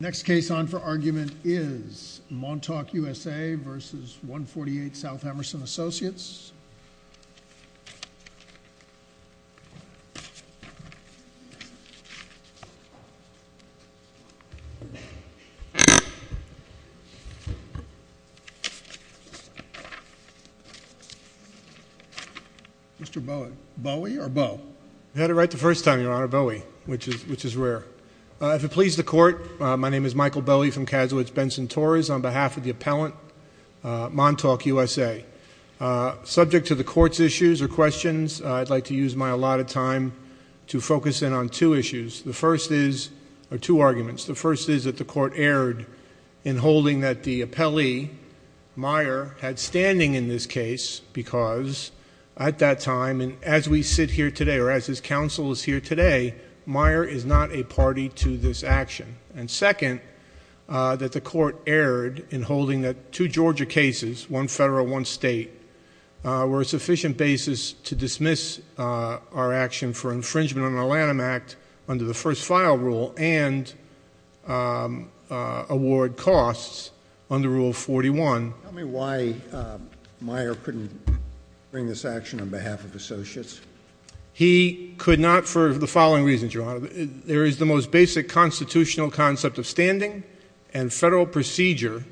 Next case on for argument is Montauk, USA v. 148 South Emerson Associates Mr. Bowie. Bowie or Bowe? You had it right the first time, Your Honor, Bowie, which is rare. If it pleases the Court, my name is Michael Bowie from Kazowitz-Benson-Torres on behalf of the appellant, Montauk, USA. Subject to the Court's issues or questions, I'd like to use my allotted time to focus in on two issues. The first is, or two arguments, the first is that the Court erred in holding that the appellee, Meyer, had standing in this case because at that time, and as we sit here today, or as his counsel is here today, Meyer is not a party to this action. And second, that the Court erred in holding that two Georgia cases, one federal, one state, were a sufficient basis to dismiss our action for infringement on the Lanham Act under the first file rule and award costs under Rule 41. Tell me why Meyer couldn't bring this action on behalf of Associates. He could not for the following reasons, Your Honor. There is the most basic constitutional concept of standing and federal procedure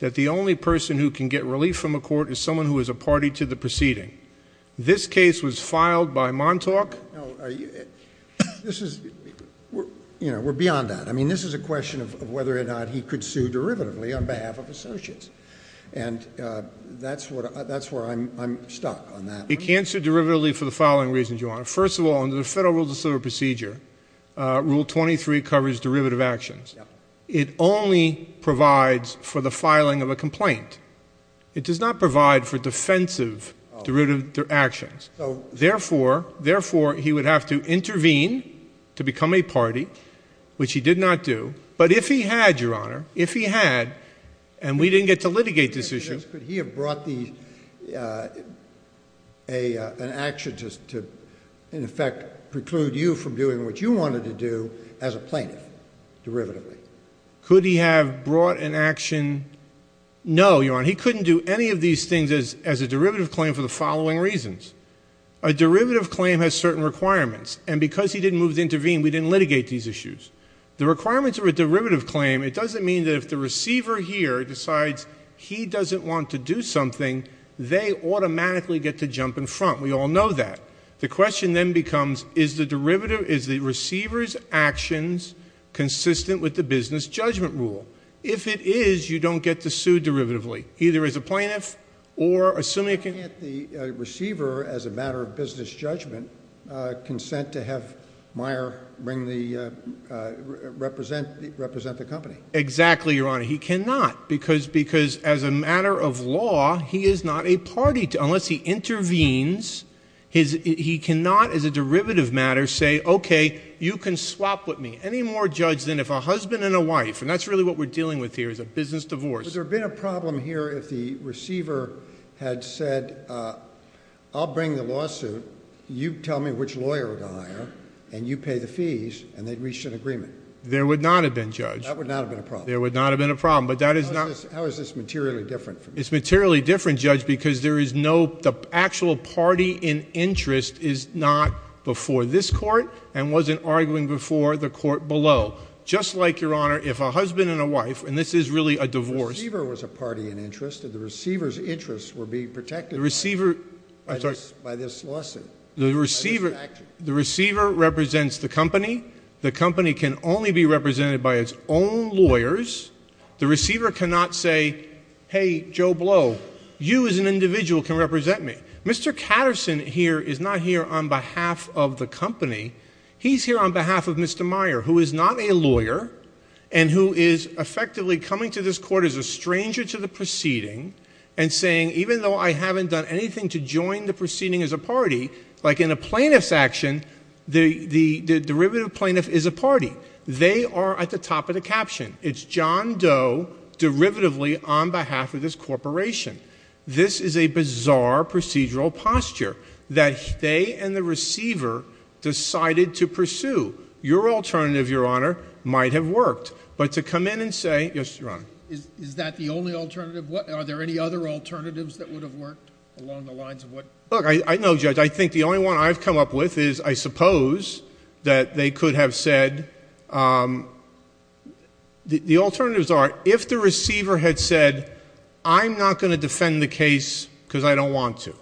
that the only person who can get relief from a court is someone who is a party to the proceeding. This case was filed by Montauk. This is, you know, we're beyond that. I mean, this is a question of whether or not he could sue derivatively on behalf of Associates. And that's where I'm stuck on that. He can't sue derivatively for the following reasons, Your Honor. First of all, under the Federal Rule of Civil Procedure, Rule 23 covers derivative actions. It only provides for the filing of a complaint. It does not provide for defensive derivative actions. Therefore, he would have to intervene to become a party, which he did not do. But if he had, Your Honor, if he had, and we didn't get to litigate this issue. Could he have brought an action to, in effect, preclude you from doing what you wanted to do as a plaintiff, derivatively? Could he have brought an action? No, Your Honor, he couldn't do any of these things as a derivative claim for the following reasons. A derivative claim has certain requirements. And because he didn't move to intervene, we didn't litigate these issues. The requirements of a derivative claim, it doesn't mean that if the receiver here decides he doesn't want to do something, they automatically get to jump in front. We all know that. The question then becomes, is the receiver's actions consistent with the business judgment rule? If it is, you don't get to sue derivatively, either as a plaintiff or assuming you can. Can't the receiver, as a matter of business judgment, consent to have Meyer represent the company? Exactly, Your Honor. He cannot, because as a matter of law, he is not a party, unless he intervenes. He cannot, as a derivative matter, say, okay, you can swap with me. Any more judge than if a husband and a wife, and that's really what we're dealing with here, is a business divorce. Would there have been a problem here if the receiver had said, I'll bring the lawsuit, you tell me which lawyer to hire, and you pay the fees, and they'd reach an agreement? There would not have been, Judge. That would not have been a problem. There would not have been a problem. How is this materially different? It's materially different, Judge, because the actual party in interest is not before this court and wasn't arguing before the court below. Just like, Your Honor, if a husband and a wife, and this is really a divorce. The receiver was a party in interest, and the receiver's interests were being protected by this lawsuit. The receiver represents the company. The company can only be represented by its own lawyers. The receiver cannot say, hey, Joe Blow, you as an individual can represent me. Mr. Katterson here is not here on behalf of the company. He's here on behalf of Mr. Meyer, who is not a lawyer and who is effectively coming to this court as a stranger to the proceeding and saying, even though I haven't done anything to join the proceeding as a party, like in a plaintiff's action, the derivative plaintiff is a party. They are at the top of the caption. It's John Doe, derivatively, on behalf of this corporation. This is a bizarre procedural posture that they and the receiver decided to pursue. Your alternative, Your Honor, might have worked. But to come in and say, yes, Your Honor. Is that the only alternative? Are there any other alternatives that would have worked along the lines of what? Look, I know, Judge, I think the only one I've come up with is I suppose that they could have said, the alternatives are, if the receiver had said, I'm not going to defend the case because I don't want to,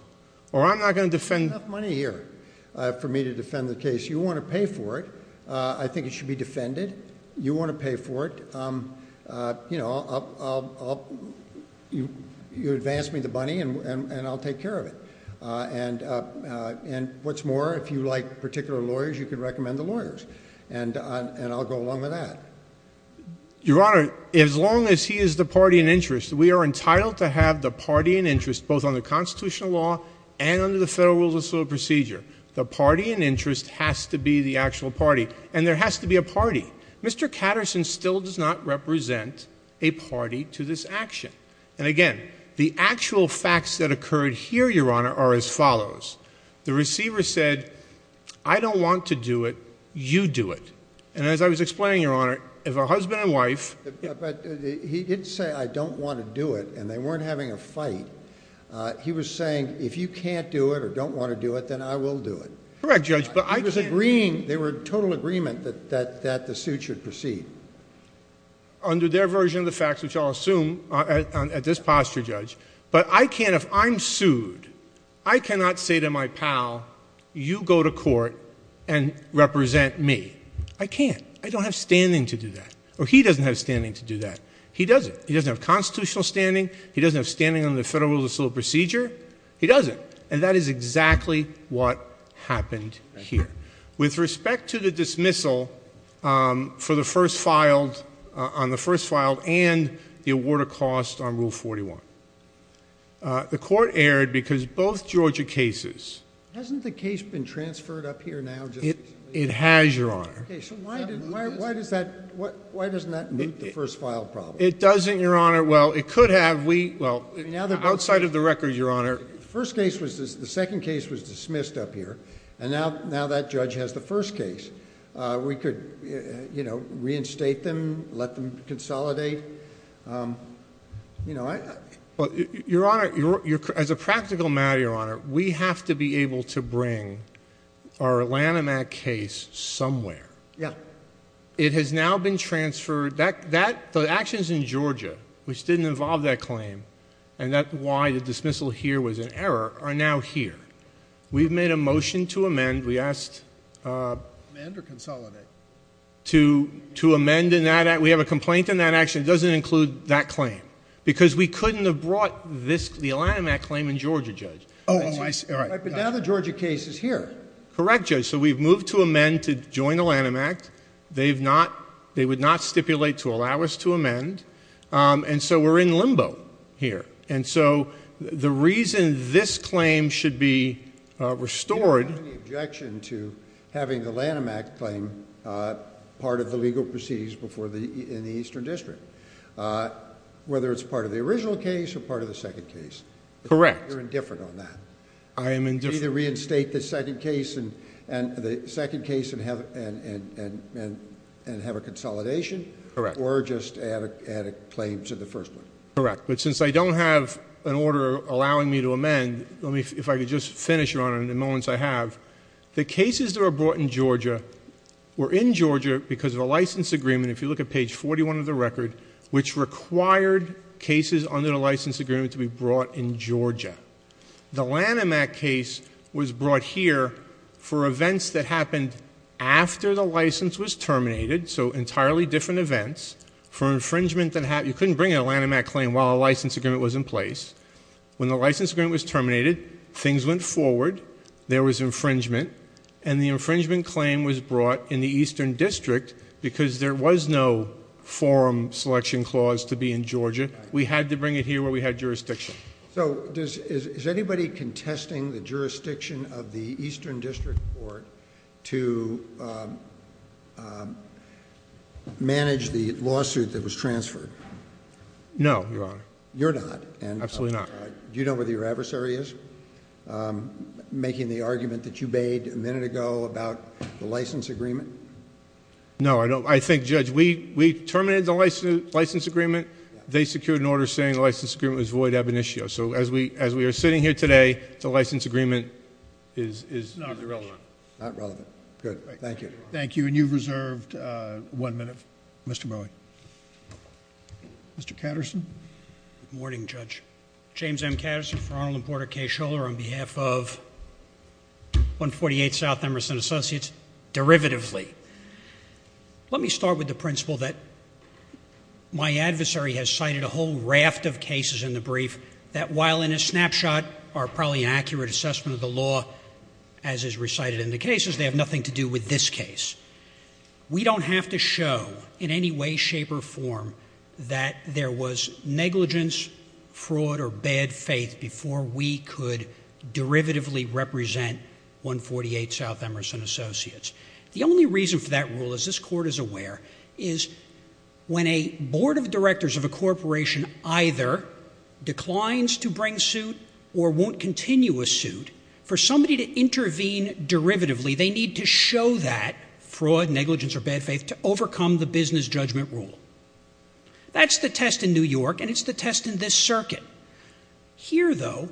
or I'm not going to defend... I have enough money here for me to defend the case. You want to pay for it. I think it should be defended. You want to pay for it. You advance me the money and I'll take care of it. And I'll go along with that. Your Honor, as long as he is the party in interest, we are entitled to have the party in interest, both under constitutional law and under the Federal Rules of Procedure. The party in interest has to be the actual party. And there has to be a party. Mr. Katterson still does not represent a party to this action. And again, the actual facts that occurred here, Your Honor, are as follows. The receiver said, I don't want to do it. You do it. And as I was explaining, Your Honor, if a husband and wife... But he didn't say, I don't want to do it. And they weren't having a fight. He was saying, if you can't do it or don't want to do it, then I will do it. Correct, Judge. But I can't... They were in total agreement that the suit should proceed. Under their version of the facts, which I'll assume at this posture, Judge. But I can't, if I'm sued, I cannot say to my pal, you go to court and represent me. I can't. I don't have standing to do that. Or he doesn't have standing to do that. He doesn't. He doesn't have constitutional standing. He doesn't have standing under the Federal Rules of Procedure. He doesn't. And that is exactly what happened here. With respect to the dismissal on the first filed and the award of cost on Rule 41. The court erred because both Georgia cases... Hasn't the case been transferred up here now? It has, Your Honor. Why doesn't that meet the first file problem? It doesn't, Your Honor. Well, it could have. Outside of the record, Your Honor... The first case was... the second case was dismissed up here. And now that judge has the first case. We could reinstate them, let them consolidate. Your Honor, as a practical matter, Your Honor, we have to be able to bring our Lanham Act case somewhere. Yeah. It has now been transferred... The action is in Georgia, which didn't involve that claim. And that's why the dismissal here was an error, are now here. We've made a motion to amend. We asked... Amend or consolidate? To amend in that... We have a complaint in that action. It doesn't include that claim. Because we couldn't have brought the Lanham Act claim in Georgia, Judge. Oh, I see. All right. But now the Georgia case is here. Correct, Judge. So we've moved to amend to join the Lanham Act. They would not stipulate to allow us to amend. And so, we're in limbo here. And so, the reason this claim should be restored... Do you have any objection to having the Lanham Act claim part of the legal proceedings in the Eastern District? Whether it's part of the original case or part of the second case? Correct. You're indifferent on that. I am indifferent. Either reinstate the second case and have a consolidation... Correct. Or just add a claim to the first one. Correct. But since I don't have an order allowing me to amend... If I could just finish, Your Honor, in the moments I have. The cases that were brought in Georgia were in Georgia because of a license agreement. If you look at page 41 of the record, which required cases under the license agreement to be brought in Georgia. The Lanham Act case was brought here for events that happened after the license was terminated. So, entirely different events. For infringement that happened... You couldn't bring in a Lanham Act claim while a license agreement was in place. When the license agreement was terminated, things went forward. There was infringement. And the infringement claim was brought in the Eastern District because there was no forum selection clause to be in Georgia. We had to bring it here where we had jurisdiction. So, is anybody contesting the jurisdiction of the Eastern District Court to manage the lawsuit that was transferred? No, Your Honor. You're not? Absolutely not. Do you know where your adversary is making the argument that you made a minute ago about the license agreement? No, I don't. I think, Judge, we terminated the license agreement. They secured an order saying the license agreement was void ab initio. So, as we are sitting here today, the license agreement is... Not relevant. Not relevant. Good. Thank you. Thank you. And you've reserved one minute, Mr. Bowie. Mr. Katterson. Good morning, Judge. James M. Katterson for Arnold and Porter K. Scholar on behalf of 148 South Emerson Associates. Let me start with the principle that my adversary has cited a whole raft of cases in the brief that, while in a snapshot, are probably an accurate assessment of the law, as is recited in the cases, they have nothing to do with this case. We don't have to show in any way, shape, or form that there was negligence, fraud, or bad faith before we could derivatively represent 148 South Emerson Associates. The only reason for that rule, as this Court is aware, is when a board of directors of a corporation either declines to bring suit or won't continue a suit, for somebody to intervene derivatively, they need to show that fraud, negligence, or bad faith to overcome the business judgment rule. That's the test in New York, and it's the test in this circuit. Here, though,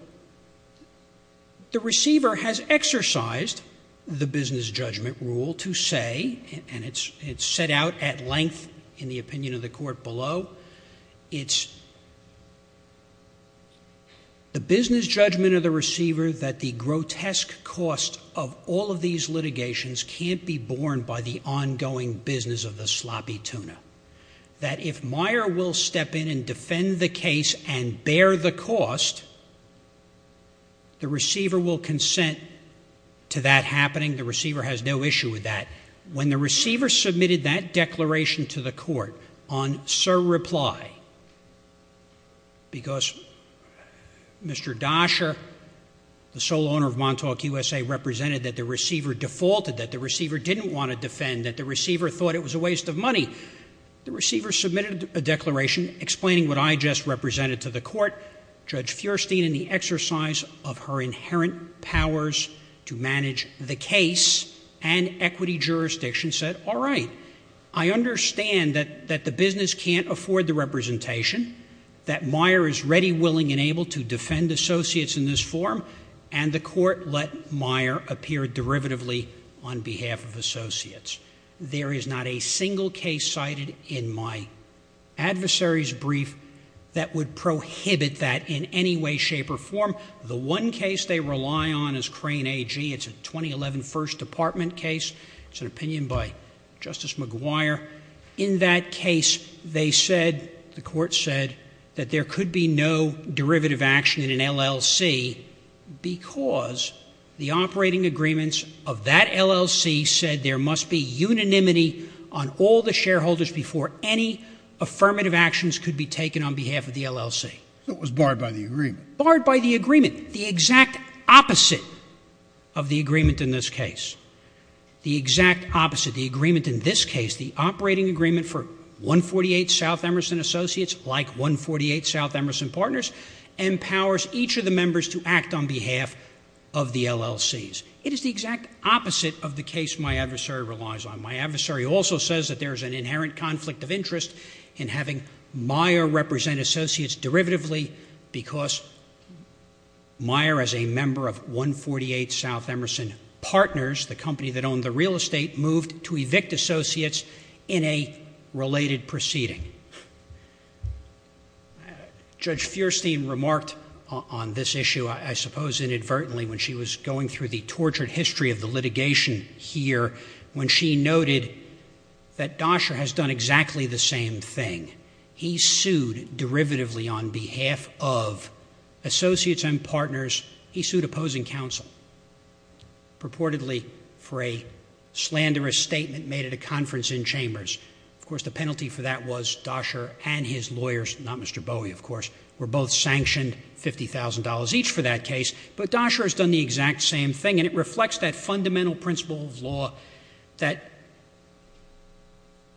the receiver has exercised the business judgment rule to say, and it's set out at length in the opinion of the Court below, it's the business judgment of the receiver that the grotesque cost of all of these litigations can't be borne by the ongoing business of the sloppy tuna. That if Meyer will step in and defend the case and bear the cost, the receiver will consent to that happening. The receiver has no issue with that. When the receiver submitted that declaration to the Court on surreply, because Mr. Dasher, the sole owner of Montauk, USA, represented that the receiver defaulted, that the receiver didn't want to defend, that the receiver thought it was a waste of money. The receiver submitted a declaration explaining what I just represented to the Court, Judge Feuerstein, in the exercise of her inherent powers to manage the case, and equity jurisdiction said, all right, I understand that the business can't afford the representation, that Meyer is ready, willing, and able to defend associates in this form, and the Court let Meyer appear derivatively on behalf of associates. There is not a single case cited in my adversary's brief that would prohibit that in any way, shape, or form. The one case they rely on is Crane AG. It's a 2011 First Department case. It's an opinion by Justice McGuire. In that case, they said, the Court said, that there could be no derivative action in an LLC because the operating agreements of that LLC said there must be unanimity on all the shareholders before any affirmative actions could be taken on behalf of the LLC. So it was barred by the agreement. The exact opposite of the agreement in this case, the exact opposite, the agreement in this case, the operating agreement for 148 South Emerson Associates, like 148 South Emerson Partners, empowers each of the members to act on behalf of the LLCs. It is the exact opposite of the case my adversary relies on. My adversary also says that there is an inherent conflict of interest in having Meyer represent associates derivatively because Meyer, as a member of 148 South Emerson Partners, the company that owned the real estate, moved to evict associates in a related proceeding. Judge Feuerstein remarked on this issue, I suppose inadvertently, when she was going through the tortured history of the litigation here, when she noted that Dosher has done exactly the same thing. He sued derivatively on behalf of associates and partners. He sued opposing counsel purportedly for a slanderous statement made at a conference in Chambers. Of course, the penalty for that was Dosher and his lawyers, not Mr. Bowie, of course, were both sanctioned $50,000 each for that case. But Dosher has done the exact same thing, and it reflects that fundamental principle of law that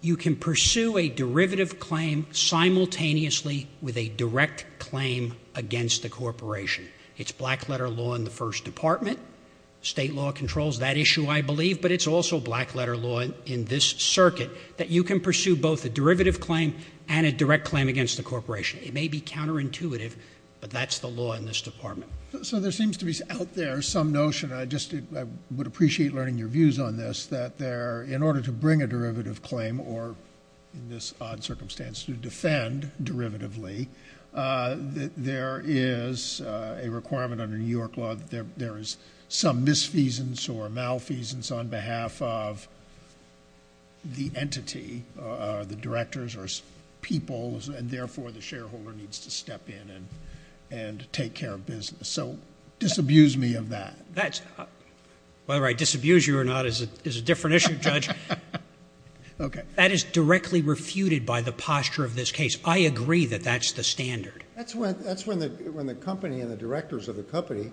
you can pursue a derivative claim simultaneously with a direct claim against the corporation. It's black letter law in the first department. State law controls that issue, I believe, but it's also black letter law in this circuit that you can pursue both a derivative claim and a direct claim against the corporation. It may be counterintuitive, but that's the law in this department. So there seems to be out there some notion, and I would appreciate learning your views on this, that in order to bring a derivative claim or, in this odd circumstance, to defend derivatively, there is a requirement under New York law that there is some misfeasance or malfeasance on behalf of the entity, the directors or peoples, and therefore the shareholder needs to step in and take care of business. So disabuse me of that. Whether I disabuse you or not is a different issue, Judge. Okay. That is directly refuted by the posture of this case. I agree that that's the standard. That's when the company and the directors of the company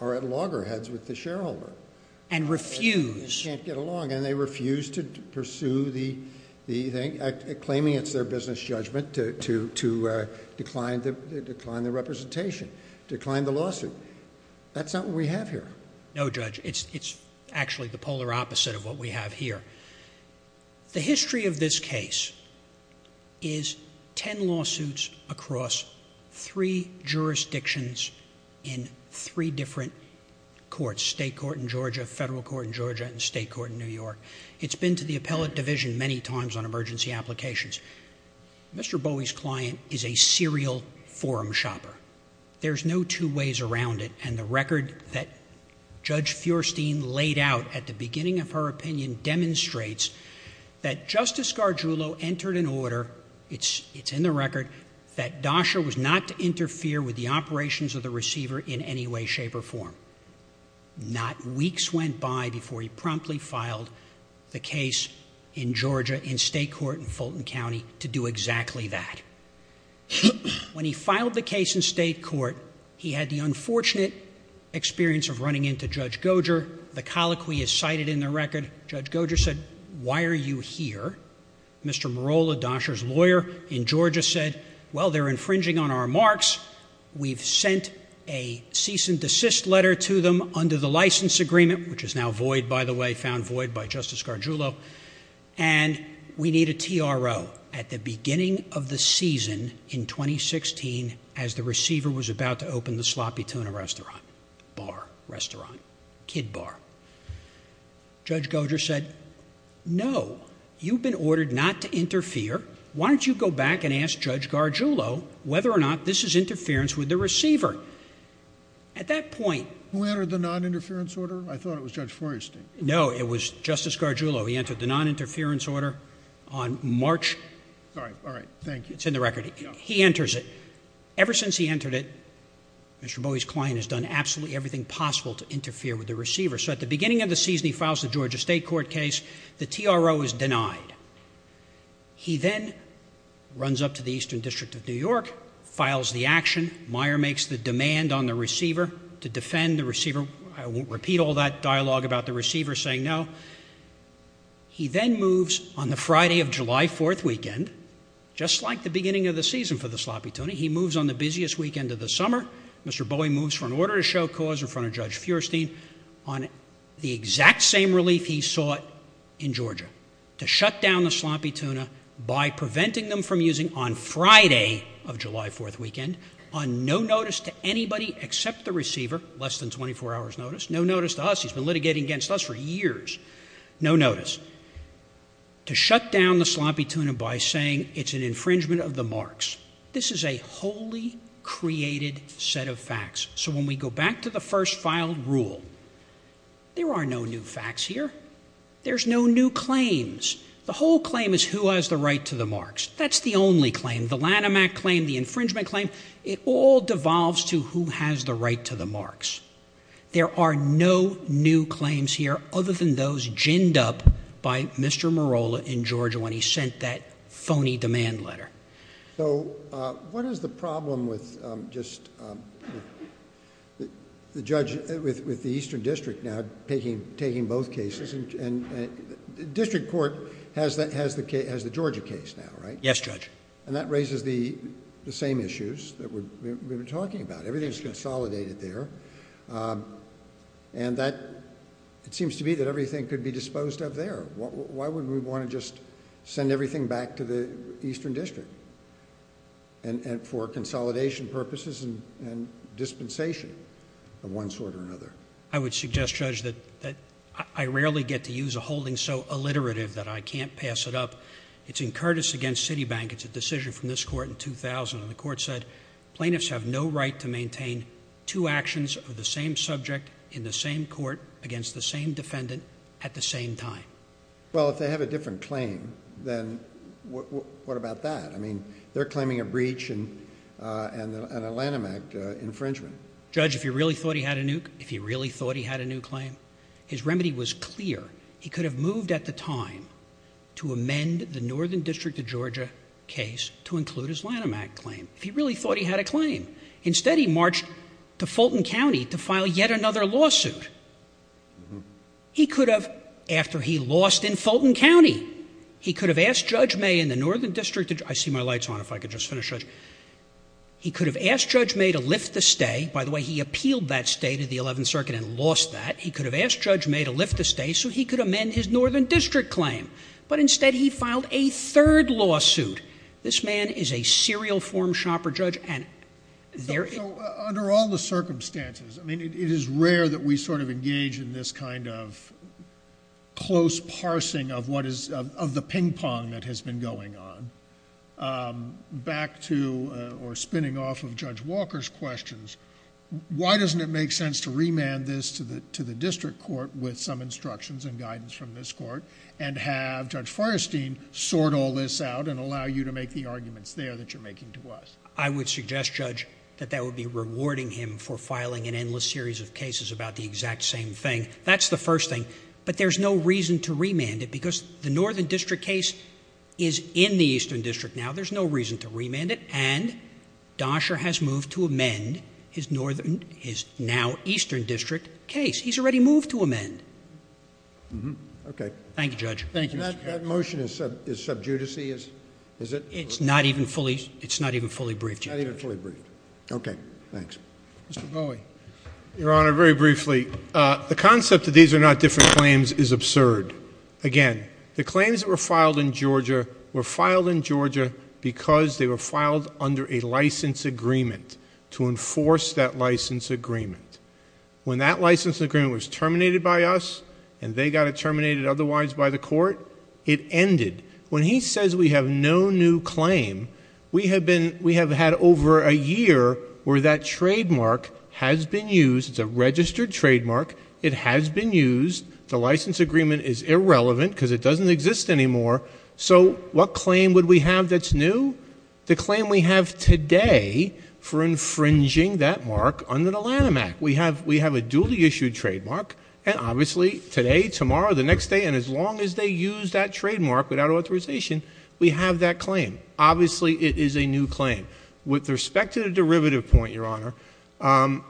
are at loggerheads with the shareholder. And refuse. And can't get along, and they refuse to pursue the thing, claiming it's their business judgment to decline the representation, decline the lawsuit. That's not what we have here. No, Judge. It's actually the polar opposite of what we have here. The history of this case is ten lawsuits across three jurisdictions in three different courts, state court in Georgia, federal court in Georgia, and state court in New York. It's been to the appellate division many times on emergency applications. Mr. Bowie's client is a serial forum shopper. There's no two ways around it. And the record that Judge Feuerstein laid out at the beginning of her opinion demonstrates that Justice Gargiulo entered an order, it's in the record, that DASHA was not to interfere with the operations of the receiver in any way, shape, or form. Not weeks went by before he promptly filed the case in Georgia in state court in Fulton County to do exactly that. When he filed the case in state court, he had the unfortunate experience of running into Judge Goger. The colloquy is cited in the record. Judge Goger said, why are you here? Mr. Morolla, DASHA's lawyer in Georgia, said, well, they're infringing on our marks. We've sent a cease and desist letter to them under the license agreement, which is now void, by the way, found void by Justice Gargiulo. And we need a TRO at the beginning of the season in 2016 as the receiver was about to open the sloppy tuna restaurant, bar, restaurant, kid bar. Judge Goger said, no, you've been ordered not to interfere. Why don't you go back and ask Judge Gargiulo whether or not this is interference with the receiver? At that point- Who entered the non-interference order? I thought it was Judge Feuerstein. No, it was Justice Gargiulo. He entered the non-interference order on March- All right, all right, thank you. It's in the record. He enters it. Ever since he entered it, Mr. Bowie's client has done absolutely everything possible to interfere with the receiver. So at the beginning of the season, he files the Georgia state court case. The TRO is denied. He then runs up to the Eastern District of New York, files the action. Meyer makes the demand on the receiver to defend the receiver. I won't repeat all that dialogue about the receiver saying no. He then moves on the Friday of July 4th weekend, just like the beginning of the season for the sloppy tuna, he moves on the busiest weekend of the summer. Mr. Bowie moves for an order to show cause in front of Judge Feuerstein on the exact same relief he sought in Georgia to shut down the sloppy tuna by preventing them from using on Friday of July 4th weekend, on no notice to anybody except the receiver, less than 24 hours notice. No notice to us. He's been litigating against us for years. No notice. To shut down the sloppy tuna by saying it's an infringement of the marks. This is a wholly created set of facts. So when we go back to the first filed rule, there are no new facts here. There's no new claims. The whole claim is who has the right to the marks. That's the only claim. The Lanham Act claim, the infringement claim, it all devolves to who has the right to the marks. There are no new claims here other than those ginned up by Mr. Morolla in Georgia when he sent that phony demand letter. So what is the problem with just the judge, with the Eastern District now taking both cases? And the District Court has the Georgia case now, right? Yes, Judge. And that raises the same issues that we've been talking about. Everything is consolidated there. And it seems to be that everything could be disposed of there. Why would we want to just send everything back to the Eastern District for consolidation purposes and dispensation of one sort or another? I would suggest, Judge, that I rarely get to use a holding so alliterative that I can't pass it up. It's in Curtis v. Citibank. It's a decision from this court in 2000. The court said plaintiffs have no right to maintain two actions of the same subject in the same court against the same defendant at the same time. Well, if they have a different claim, then what about that? I mean they're claiming a breach and a Lanham Act infringement. Judge, if you really thought he had a new claim, his remedy was clear. He could have moved at the time to amend the Northern District of Georgia case to include his Lanham Act claim. If he really thought he had a claim. Instead, he marched to Fulton County to file yet another lawsuit. He could have, after he lost in Fulton County, he could have asked Judge May in the Northern District of Georgia. I see my light's on. If I could just finish, Judge. He could have asked Judge May to lift the stay. By the way, he appealed that stay to the Eleventh Circuit and lost that. He could have asked Judge May to lift the stay so he could amend his Northern District claim. But instead, he filed a third lawsuit. This man is a serial form shopper, Judge. So under all the circumstances, I mean it is rare that we sort of engage in this kind of close parsing of the ping pong that has been going on. Back to or spinning off of Judge Walker's questions. Why doesn't it make sense to remand this to the district court with some instructions and guidance from this court? And have Judge Fierstein sort all this out and allow you to make the arguments there that you're making to us? I would suggest, Judge, that that would be rewarding him for filing an endless series of cases about the exact same thing. That's the first thing. But there's no reason to remand it because the Northern District case is in the Eastern District now. There's no reason to remand it. And Dosher has moved to amend his now Eastern District case. He's already moved to amend. Okay. Thank you, Judge. Thank you. That motion is sub judice-y, is it? It's not even fully briefed, Judge. Not even fully briefed. Okay. Thanks. Mr. Bowie. Your Honor, very briefly, the concept that these are not different claims is absurd. Again, the claims that were filed in Georgia were filed in Georgia because they were filed under a license agreement to enforce that license agreement. When that license agreement was terminated by us and they got it terminated otherwise by the court, it ended. When he says we have no new claim, we have had over a year where that trademark has been used. It's a registered trademark. It has been used. The license agreement is irrelevant because it doesn't exist anymore. So what claim would we have that's new? The claim we have today for infringing that mark under the Lanham Act. We have a duly issued trademark, and obviously today, tomorrow, the next day, and as long as they use that trademark without authorization, we have that claim. Obviously, it is a new claim. With respect to the derivative point, Your Honor,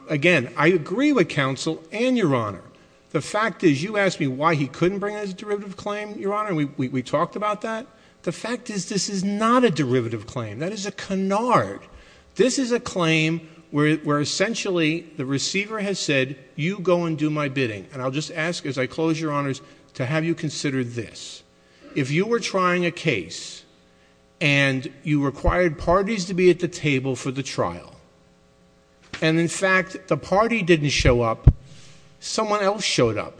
again, I agree with counsel and Your Honor. The fact is you asked me why he couldn't bring a derivative claim, Your Honor, and we talked about that. The fact is this is not a derivative claim. That is a canard. This is a claim where essentially the receiver has said you go and do my bidding, and I'll just ask as I close, Your Honors, to have you consider this. If you were trying a case and you required parties to be at the table for the trial, and in fact the party didn't show up, someone else showed up,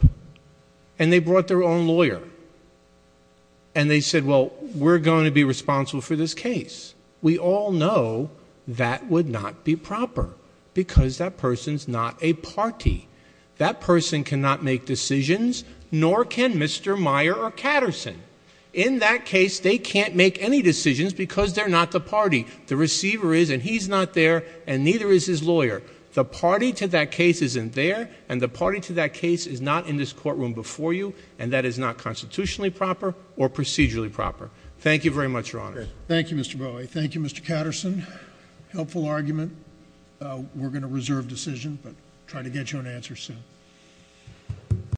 and they brought their own lawyer, and they said, well, we're going to be responsible for this case. We all know that would not be proper because that person's not a party. That person cannot make decisions, nor can Mr. Meyer or Katterson. In that case, they can't make any decisions because they're not the party. The receiver is, and he's not there, and neither is his lawyer. The party to that case isn't there, and the party to that case is not in this courtroom before you, and that is not constitutionally proper or procedurally proper. Thank you very much, Your Honors. Thank you, Mr. Bowie. Thank you, Mr. Katterson. Helpful argument. We're going to reserve decision, but try to get you an answer soon.